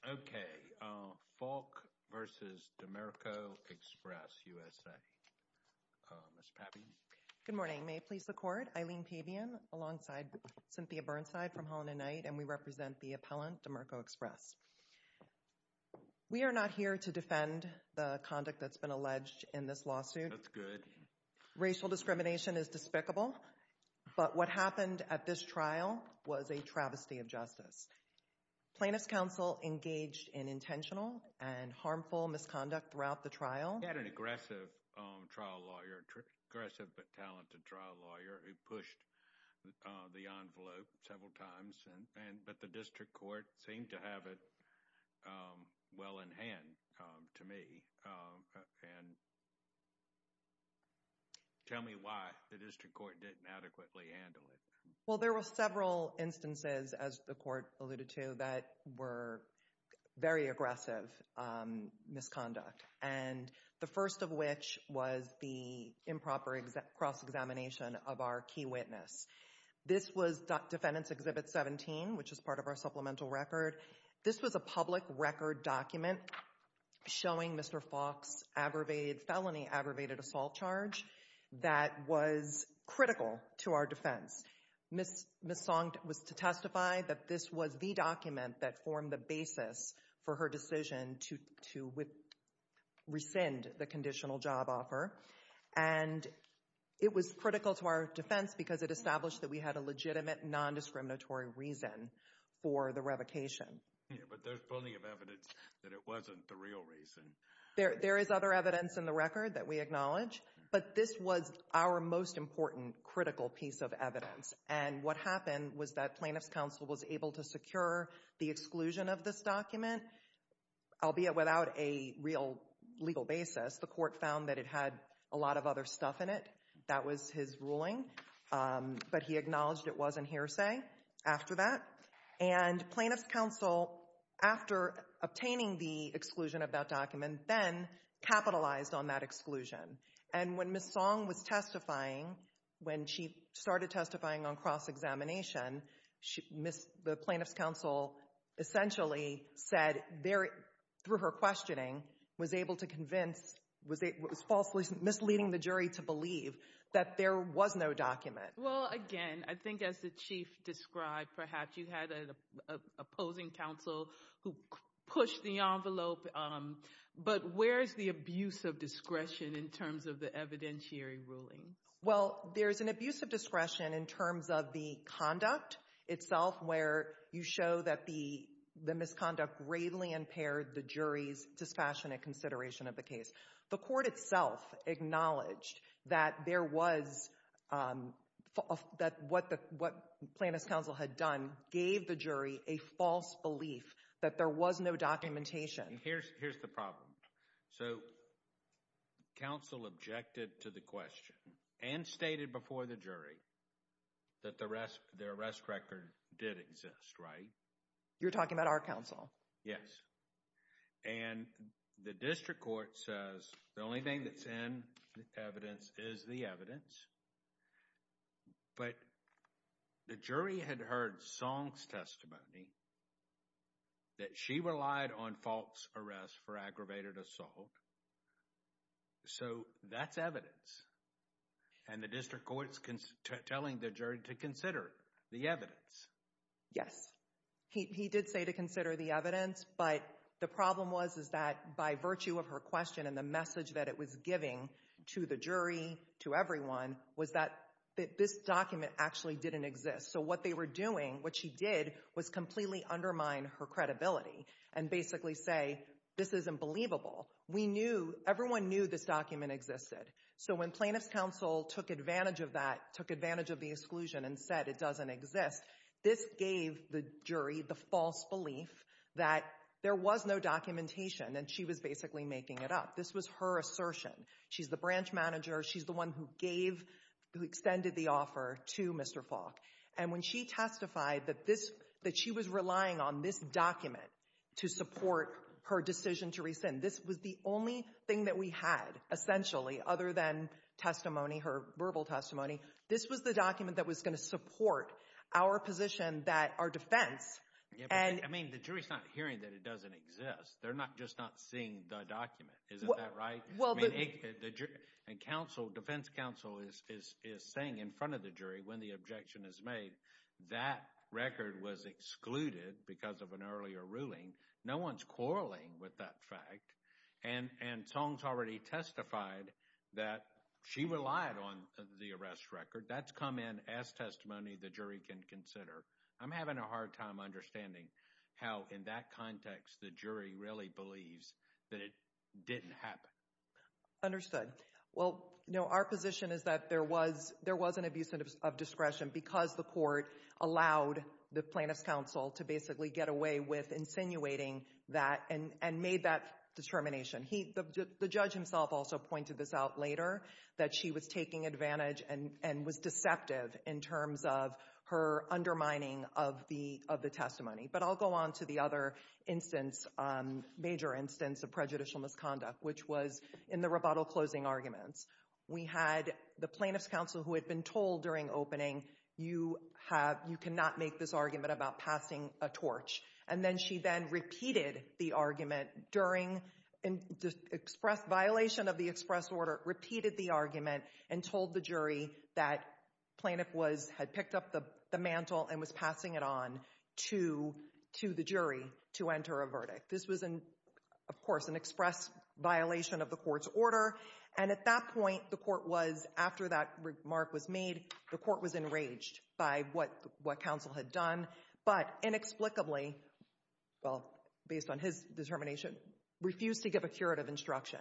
Okay. Faulk v. Dimerco Express USA. Ms. Pappy? Good morning. May it please the Court, Eileen Pabian alongside Cynthia Burnside from Holland & Knight and we represent the appellant Dimerco Express. We are not here to defend the conduct that's been alleged in this lawsuit. That's good. Racial discrimination is despicable, but what happened at this trial was a travesty of justice. Plaintiff's counsel engaged in intentional and harmful misconduct throughout the trial. We had an aggressive trial lawyer, aggressive but talented trial lawyer who pushed the envelope several times, but the district court seemed to have it well in hand to me. And tell me why the district court didn't adequately handle it. Well, there were several instances, as the court alluded to, that were very aggressive misconduct. And the first of which was the improper cross-examination of our key witness. This was Defendant's Exhibit 17, which is part of our supplemental record. This was a public record document showing Mr. Falk's felony aggravated assault charge that was critical to our defense. Ms. Song was to testify that this was the document that formed the basis for her decision to rescind the conditional job offer. And it was critical to our defense because it established that we had a legitimate nondiscriminatory reason for the revocation. But there's plenty of evidence that it wasn't the real reason. There is other evidence in the record that we acknowledge, but this was our most important critical piece of evidence. And what happened was that plaintiff's counsel was able to secure the exclusion of this document, albeit without a real legal basis. The court found that it had a lot of other stuff in it. That was his ruling, but he acknowledged it wasn't hearsay after that. And plaintiff's counsel, after obtaining the exclusion of that document, then capitalized on that exclusion. And when Ms. Song was testifying, when she started testifying on cross-examination, the plaintiff's counsel essentially said, through her questioning, was able to convince, was falsely misleading the jury to believe that there was no document. Well, again, I think as the Chief described, perhaps you had an opposing counsel who pushed the envelope. But where's the abuse of discretion in terms of the evidentiary ruling? Well, there's an abuse of discretion in terms of the conduct itself, where you show that the misconduct greatly impaired the jury's dispassionate consideration of the case. The court itself acknowledged that what plaintiff's counsel had done gave the jury a false belief that there was no documentation. Here's the problem. So, counsel objected to the question and stated before the jury that the arrest record did exist, right? You're talking about our counsel? Yes. And the district court says the only thing that's in evidence is the evidence. But the jury had heard Song's testimony, that she relied on false arrest for aggravated assault. So, that's evidence. And the district court's telling the jury to consider the evidence. Yes. He did say to consider the evidence, but the problem was, is that by virtue of her question and the message that it was giving to the jury, to everyone, was that this document actually didn't exist. So, what they were doing, what she did, was completely undermine her credibility and basically say, this is unbelievable. We knew, everyone knew this document existed. So, when plaintiff's counsel took advantage of that, took advantage of the exclusion and said it doesn't exist, this gave the jury the false belief that there was no documentation and she was basically making it up. This was her assertion. She's the branch manager. She's the one who gave, who extended the offer to Mr. Falk. And when she testified that this, that she was relying on this document to support her decision to rescind, this was the only thing that we had, essentially, other than testimony, her verbal testimony. This was the document that was going to support our position that our defense. I mean, the jury's not hearing that it doesn't exist. They're just not seeing the document. Isn't that right? And defense counsel is saying in front of the jury when the objection is made, that record was excluded because of an earlier ruling. No one's quarreling with that fact. And Song's already testified that she relied on the arrest record. That's come in as testimony the jury can consider. I'm having a hard time understanding how, in that context, the jury really believes that it didn't happen. Understood. Well, no, our position is that there was an abuse of discretion because the court allowed the plaintiff's counsel to basically get away with insinuating that and made that determination. The judge himself also pointed this out later, that she was taking advantage and was deceptive in terms of her undermining of the testimony. But I'll go on to the other instance, major instance of prejudicial misconduct, which was in the rebuttal closing arguments. We had the plaintiff's counsel who had been told during opening, you cannot make this argument about passing a torch. And then she then repeated the argument during express violation of the express order, repeated the argument, and told the jury that plaintiff had picked up the mantle and was passing it on to the jury to enter a verdict. This was, of course, an express violation of the court's order. And at that point, the court was, after that remark was made, the court was enraged by what counsel had done. But inexplicably, well, based on his determination, refused to give a curative instruction.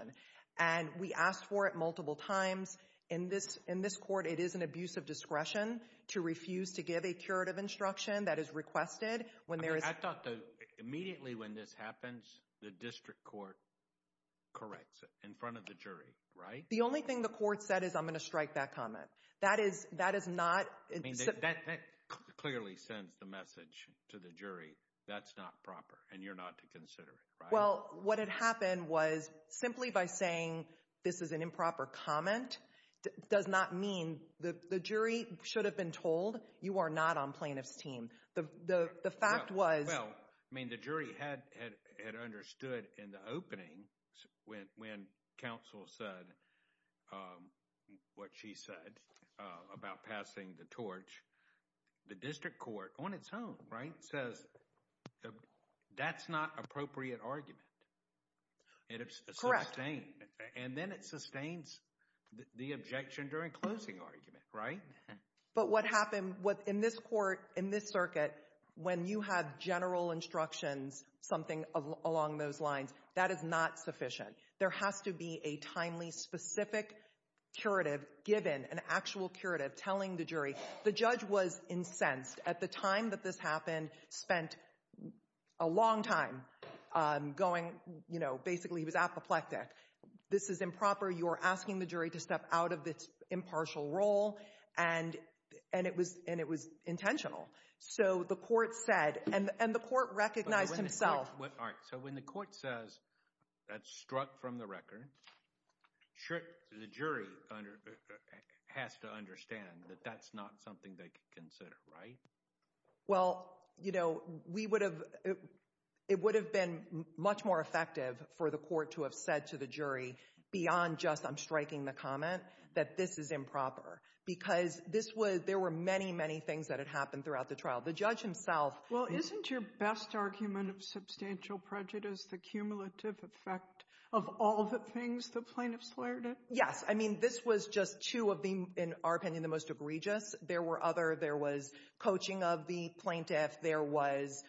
And we asked for it multiple times. In this court, it is an abuse of discretion to refuse to give a curative instruction that is requested. I thought that immediately when this happens, the district court corrects it in front of the jury, right? The only thing the court said is I'm going to strike that comment. That is not – That clearly sends the message to the jury that's not proper and you're not to consider it, right? Well, what had happened was simply by saying this is an improper comment does not mean – the jury should have been told you are not on plaintiff's team. The fact was – I mean the jury had understood in the opening when counsel said what she said about passing the torch. The district court on its own, right, says that's not appropriate argument. Correct. And then it sustains the objection during closing argument, right? But what happened – in this court, in this circuit, when you have general instructions, something along those lines, that is not sufficient. There has to be a timely, specific curative given, an actual curative telling the jury. The judge was incensed at the time that this happened, spent a long time going – you know, basically he was apoplectic. This is improper. You are asking the jury to step out of its impartial role and it was intentional. So the court said – and the court recognized himself. All right. So when the court says that's struck from the record, the jury has to understand that that's not something they can consider, right? Well, you know, we would have – it would have been much more effective for the court to have said to the jury beyond just I'm striking the comment, that this is improper. Because this was – there were many, many things that had happened throughout the trial. The judge himself – Well, isn't your best argument of substantial prejudice the cumulative effect of all the things the plaintiff slurred in? Yes. I mean this was just two of the, in our opinion, the most egregious. There were other – there was coaching of the plaintiff. There was,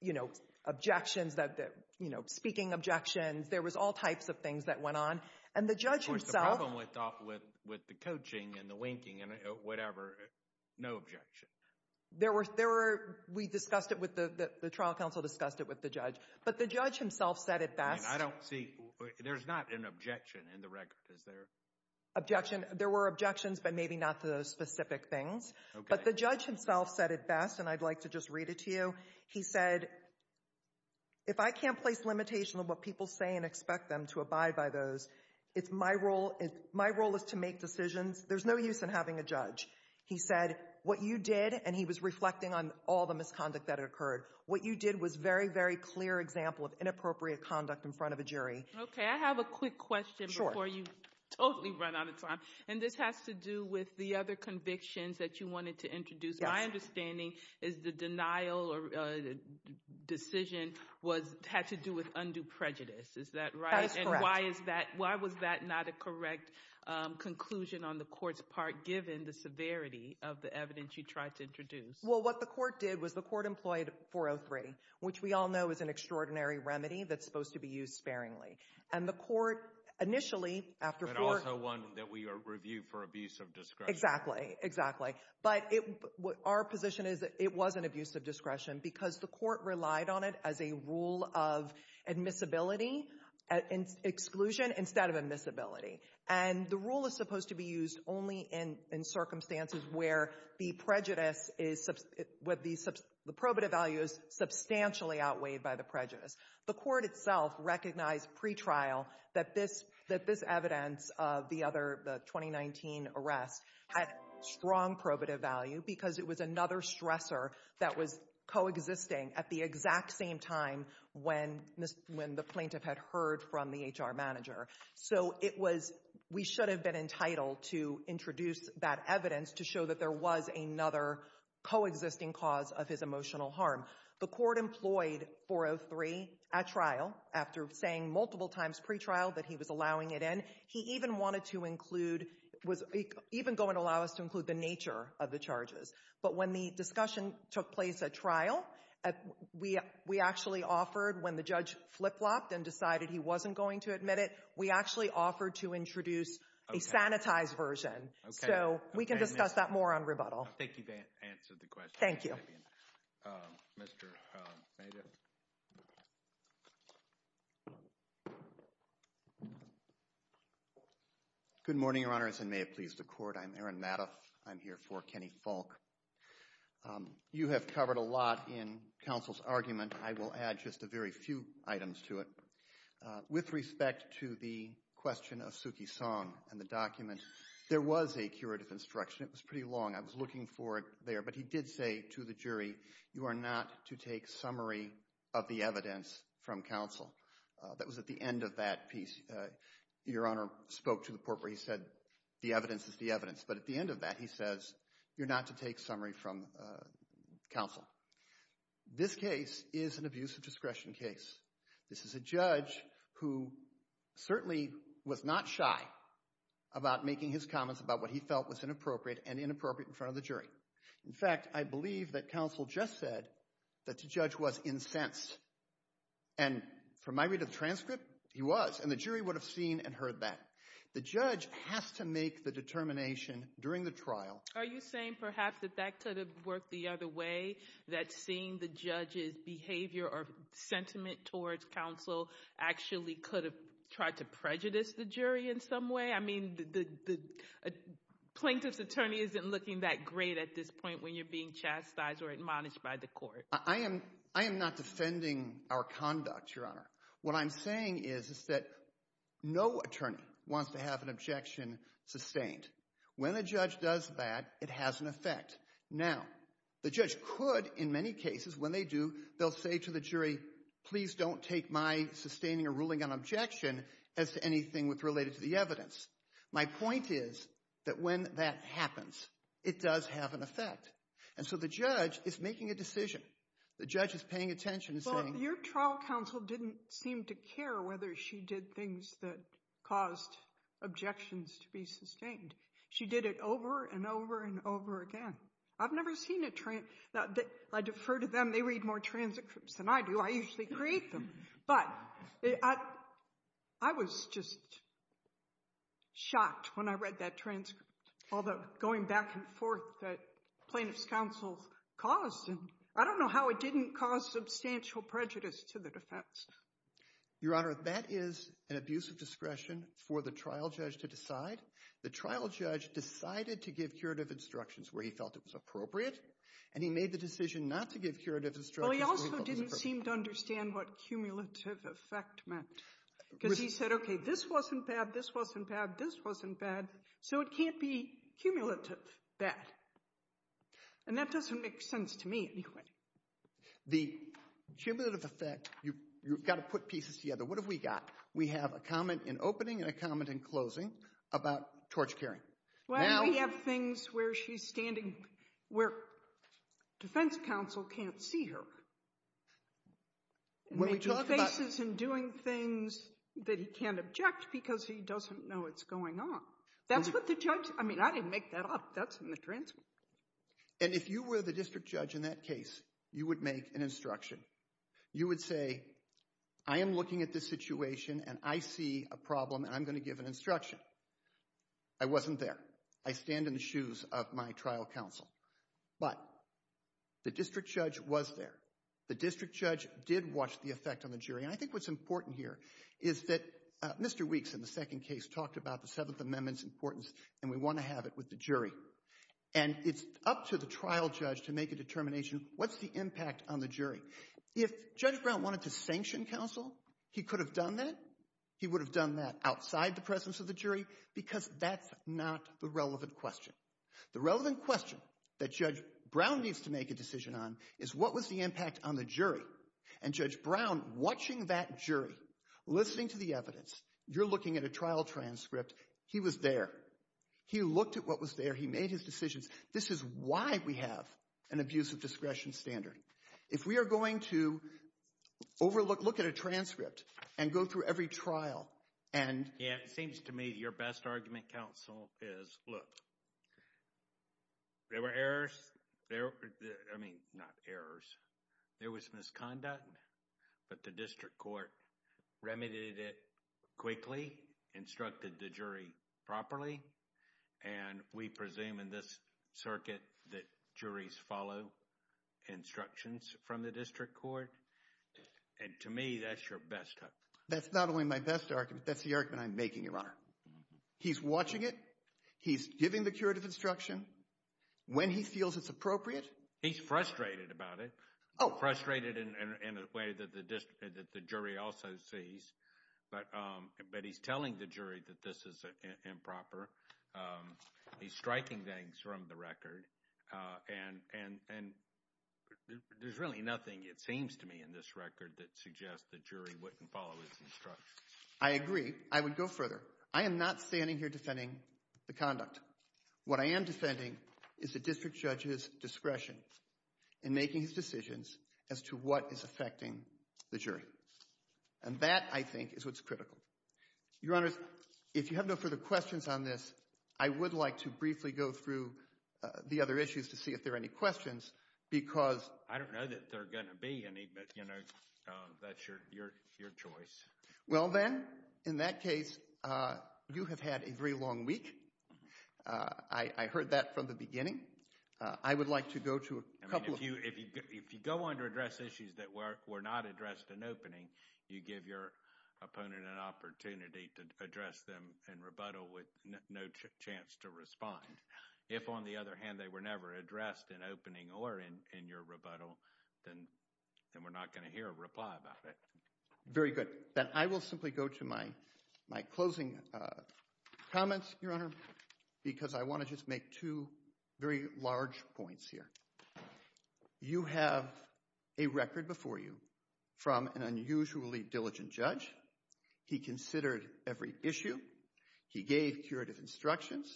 you know, objections that – you know, speaking objections. There was all types of things that went on. And the judge himself – Of course, the problem with the coaching and the linking and whatever, no objection. There were – we discussed it with the – the trial counsel discussed it with the judge. But the judge himself said it best. I mean, I don't see – there's not an objection in the record, is there? Objection – there were objections, but maybe not to those specific things. Okay. But the judge himself said it best, and I'd like to just read it to you. He said, if I can't place limitation on what people say and expect them to abide by those, it's my role – my role is to make decisions. There's no use in having a judge. He said, what you did – and he was reflecting on all the misconduct that had occurred. What you did was very, very clear example of inappropriate conduct in front of a jury. Okay. I have a quick question before you totally run out of time. And this has to do with the other convictions that you wanted to introduce. Yes. My understanding is the denial or decision was – had to do with undue prejudice. Is that right? That is correct. And why is that – why was that not a correct conclusion on the court's part, given the severity of the evidence you tried to introduce? Well, what the court did was the court employed 403, which we all know is an extraordinary remedy that's supposed to be used sparingly. And the court initially – But also one that we review for abuse of discretion. Exactly. But our position is it was an abuse of discretion because the court relied on it as a rule of admissibility, exclusion instead of admissibility. And the rule is supposed to be used only in circumstances where the prejudice is – where the probative value is substantially outweighed by the prejudice. The court itself recognized pretrial that this evidence of the other – the 2019 arrest had strong probative value because it was another stressor that was coexisting at the exact same time when the plaintiff had heard from the HR manager. So it was – we should have been entitled to introduce that evidence to show that there was another coexisting cause of his emotional harm. The court employed 403 at trial after saying multiple times pretrial that he was allowing it in. He even wanted to include – even go and allow us to include the nature of the charges. But when the discussion took place at trial, we actually offered when the judge flip-flopped and decided he wasn't going to admit it, we actually offered to introduce a sanitized version. So we can discuss that more on rebuttal. Thank you for answering the question. Thank you. Mr. Mayda. Good morning, Your Honors, and may it please the court. I'm Aaron Madoff. I'm here for Kenny Falk. You have covered a lot in counsel's argument. I will add just a very few items to it. With respect to the question of Suki Song and the document, there was a curative instruction. It was pretty long. I was looking for it there, but he did say to the jury, you are not to take summary of the evidence from counsel. That was at the end of that piece. Your Honor spoke to the court where he said the evidence is the evidence. But at the end of that, he says you're not to take summary from counsel. This case is an abuse of discretion case. This is a judge who certainly was not shy about making his comments about what he felt was inappropriate and inappropriate in front of the jury. In fact, I believe that counsel just said that the judge was incensed. And from my read of the transcript, he was. And the jury would have seen and heard that. The judge has to make the determination during the trial. Are you saying perhaps that that could have worked the other way, that seeing the judge's behavior or sentiment towards counsel actually could have tried to prejudice the jury in some way? I mean, the plaintiff's attorney isn't looking that great at this point when you're being chastised or admonished by the court. I am not defending our conduct, Your Honor. What I'm saying is that no attorney wants to have an objection sustained. When a judge does that, it has an effect. Now, the judge could, in many cases, when they do, they'll say to the jury, please don't take my sustaining a ruling on objection as to anything related to the evidence. My point is that when that happens, it does have an effect. And so the judge is making a decision. The judge is paying attention and saying— But your trial counsel didn't seem to care whether she did things that caused objections to be sustained. She did it over and over and over again. I've never seen a—I defer to them. They read more transcripts than I do. I usually create them. But I was just shocked when I read that transcript, all the going back and forth that plaintiff's counsel caused. And I don't know how it didn't cause substantial prejudice to the defense. Your Honor, that is an abuse of discretion for the trial judge to decide. The trial judge decided to give curative instructions where he felt it was appropriate, and he made the decision not to give curative instructions where he felt it was appropriate. Well, he also didn't seem to understand what cumulative effect meant. Because he said, okay, this wasn't bad, this wasn't bad, this wasn't bad, so it can't be cumulative bad. And that doesn't make sense to me anyway. The cumulative effect, you've got to put pieces together. What have we got? We have a comment in opening and a comment in closing about torch-carrying. Well, we have things where she's standing where defense counsel can't see her. When we talk about— Making faces and doing things that he can't object because he doesn't know what's going on. That's what the judge—I mean, I didn't make that up. That's in the transcript. And if you were the district judge in that case, you would make an instruction. You would say, I am looking at this situation, and I see a problem, and I'm going to give an instruction. I wasn't there. I stand in the shoes of my trial counsel. But the district judge was there. The district judge did watch the effect on the jury. And I think what's important here is that Mr. Weeks in the second case talked about the Seventh Amendment's importance, and we want to have it with the jury. And it's up to the trial judge to make a determination, what's the impact on the jury? If Judge Brown wanted to sanction counsel, he could have done that. He would have done that outside the presence of the jury because that's not the relevant question. The relevant question that Judge Brown needs to make a decision on is what was the impact on the jury. And Judge Brown, watching that jury, listening to the evidence, you're looking at a trial transcript. He was there. He looked at what was there. He made his decisions. This is why we have an abuse of discretion standard. If we are going to overlook, look at a transcript and go through every trial and— Yeah, it seems to me your best argument, counsel, is, look, there were errors. I mean, not errors. There was misconduct. But the district court remedied it quickly, instructed the jury properly. And we presume in this circuit that juries follow instructions from the district court. And to me, that's your best argument. That's not only my best argument. That's the argument I'm making, Your Honor. He's watching it. He's giving the curative instruction when he feels it's appropriate. He's frustrated about it, frustrated in a way that the jury also sees. But he's telling the jury that this is improper. He's striking things from the record. And there's really nothing, it seems to me, in this record that suggests the jury wouldn't follow his instructions. I agree. I would go further. I am not standing here defending the conduct. What I am defending is the district judge's discretion in making his decisions as to what is affecting the jury. And that, I think, is what's critical. Your Honor, if you have no further questions on this, I would like to briefly go through the other issues to see if there are any questions because— I don't know that there are going to be any, but that's your choice. Well then, in that case, you have had a very long week. I heard that from the beginning. I would like to go to a couple of— If you go on to address issues that were not addressed in opening, you give your opponent an opportunity to address them in rebuttal with no chance to respond. If, on the other hand, they were never addressed in opening or in your rebuttal, then we're not going to hear a reply about it. Very good. Then I will simply go to my closing comments, Your Honor, because I want to just make two very large points here. You have a record before you from an unusually diligent judge. He considered every issue. He gave curative instructions.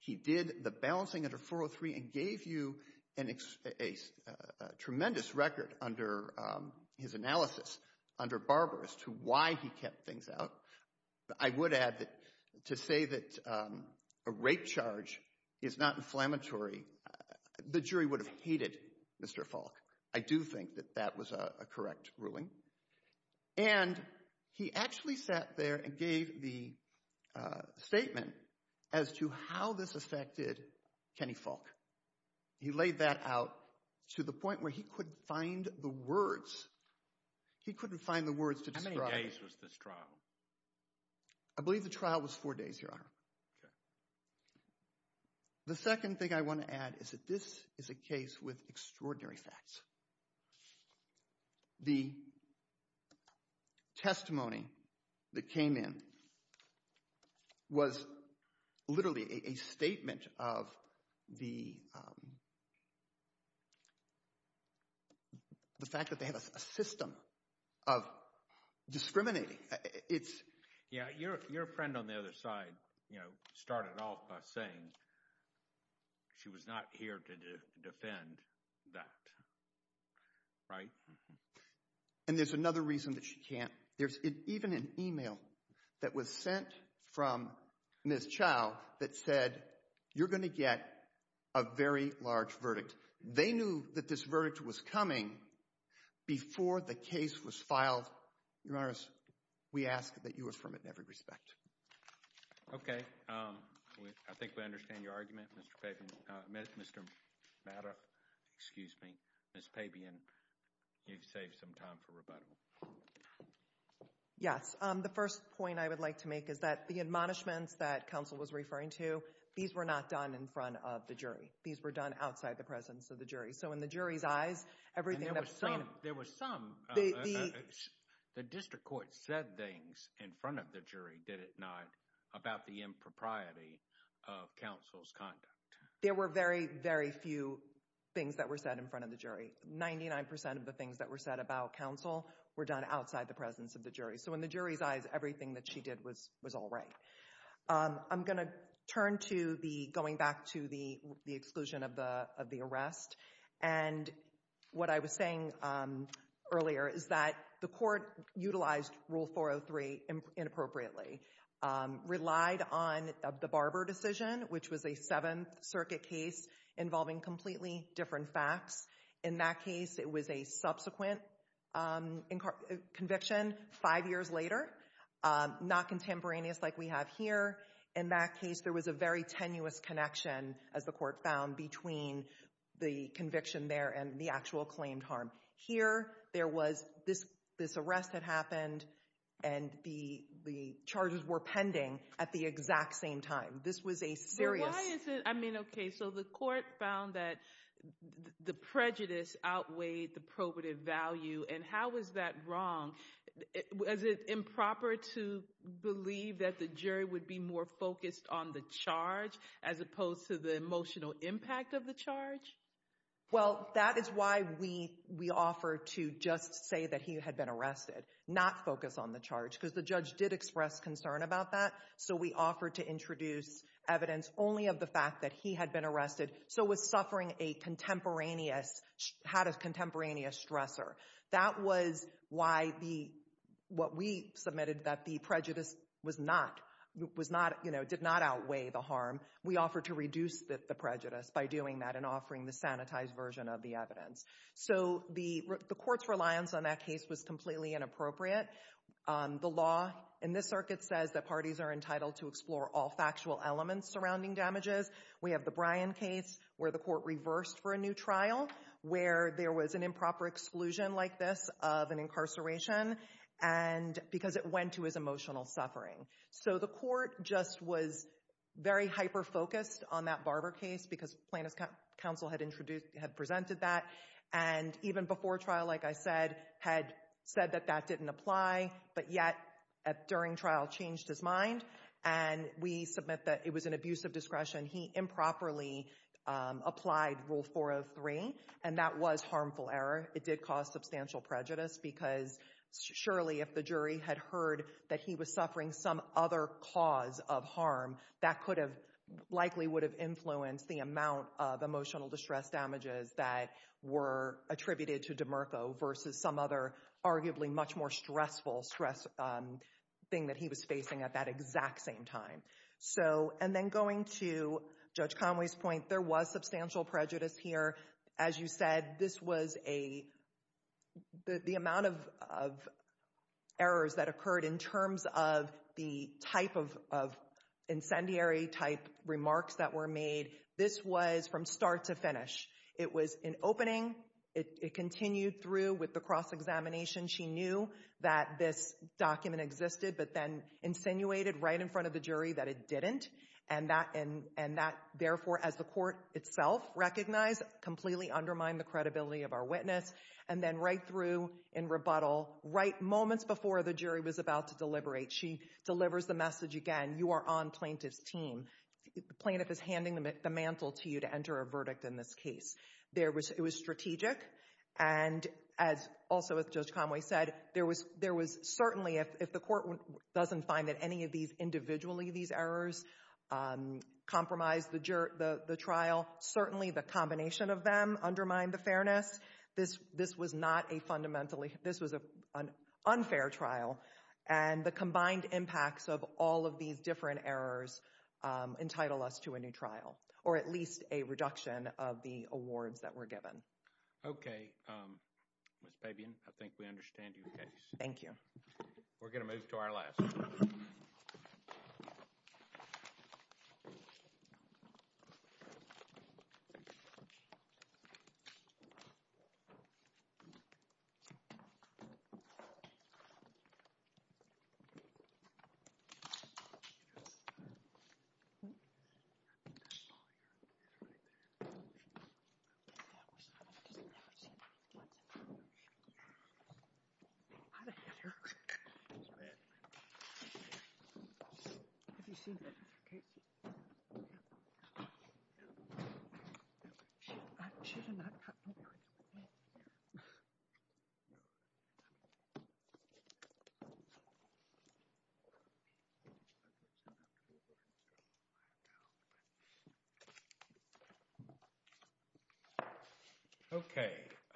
He did the balancing under 403 and gave you a tremendous record under his analysis under Barber as to why he kept things out. I would add that to say that a rape charge is not inflammatory, the jury would have hated Mr. Falk. I do think that that was a correct ruling. And he actually sat there and gave the statement as to how this affected Kenny Falk. He laid that out to the point where he couldn't find the words. He couldn't find the words to describe it. How many days was this trial? I believe the trial was four days, Your Honor. The second thing I want to add is that this is a case with extraordinary facts. The testimony that came in was literally a statement of the fact that they have a system of discriminating. Your friend on the other side started off by saying she was not here to defend that, right? And there's another reason that she can't. There's even an email that was sent from Ms. Chau that said you're going to get a very large verdict. They knew that this verdict was coming before the case was filed. Your Honor, we ask that you affirm it in every respect. Okay. I think we understand your argument, Mr. Pabian. Mr. Madoff, excuse me, Ms. Pabian, you've saved some time for rebuttal. Yes. The first point I would like to make is that the admonishments that counsel was referring to, these were not done in front of the jury. These were done outside the presence of the jury. So in the jury's eyes, everything that— And there was some—the district court said things in front of the jury, did it not, about the impropriety of counsel's conduct. There were very, very few things that were said in front of the jury. Ninety-nine percent of the things that were said about counsel were done outside the presence of the jury. So in the jury's eyes, everything that she did was all right. I'm going to turn to the—going back to the exclusion of the arrest. And what I was saying earlier is that the court utilized Rule 403 inappropriately, relied on the Barber decision, which was a Seventh Circuit case involving completely different facts. In that case, it was a subsequent conviction five years later, not contemporaneous like we have here. In that case, there was a very tenuous connection, as the court found, between the conviction there and the actual claimed harm. Here, there was—this arrest had happened, and the charges were pending at the exact same time. This was a serious— Why is it—I mean, okay, so the court found that the prejudice outweighed the probative value, and how is that wrong? Was it improper to believe that the jury would be more focused on the charge as opposed to the emotional impact of the charge? Well, that is why we offered to just say that he had been arrested, not focus on the charge, because the judge did express concern about that. So we offered to introduce evidence only of the fact that he had been arrested, so was suffering a contemporaneous—had a contemporaneous stressor. That was why the—what we submitted that the prejudice was not—was not, you know, did not outweigh the harm. We offered to reduce the prejudice by doing that and offering the sanitized version of the evidence. So the court's reliance on that case was completely inappropriate. The law in this circuit says that parties are entitled to explore all factual elements surrounding damages. We have the Bryan case, where the court reversed for a new trial, where there was an improper exclusion like this of an incarceration, and—because it went to his emotional suffering. So the court just was very hyper-focused on that Barber case because plaintiff's counsel had introduced—had presented that, and even before trial, like I said, had said that that didn't apply. But yet, during trial, changed his mind, and we submit that it was an abuse of discretion. He improperly applied Rule 403, and that was harmful error. It did cause substantial prejudice because, surely, if the jury had heard that he was suffering some other cause of harm, that could have—likely would have influenced the amount of emotional distress damages that were attributed to DeMurko versus some other arguably much more stressful stress thing that he was facing at that exact same time. So—and then going to Judge Conway's point, there was substantial prejudice here. As you said, this was a—the amount of errors that occurred in terms of the type of incendiary-type remarks that were made, this was from start to finish. It was an opening. It continued through with the cross-examination. She knew that this document existed, but then insinuated right in front of the jury that it didn't, and that, therefore, as the court itself recognized, completely undermined the credibility of our witness, and then right through in rebuttal, right moments before the jury was about to deliberate, she delivers the message again, you are on plaintiff's team. The plaintiff is handing the mantle to you to enter a verdict in this case. There was—it was strategic, and as—also, as Judge Conway said, there was certainly—if the court doesn't find that any of these—individually, these errors compromised the trial, certainly the combination of them undermined the fairness. This was not a fundamentally—this was an unfair trial, and the combined impacts of all of these different errors entitle us to a new trial, or at least a reduction of the awards that were given. Okay. Ms. Pabian, I think we understand your case. Thank you. We're going to move to our last. Thank you. Okay.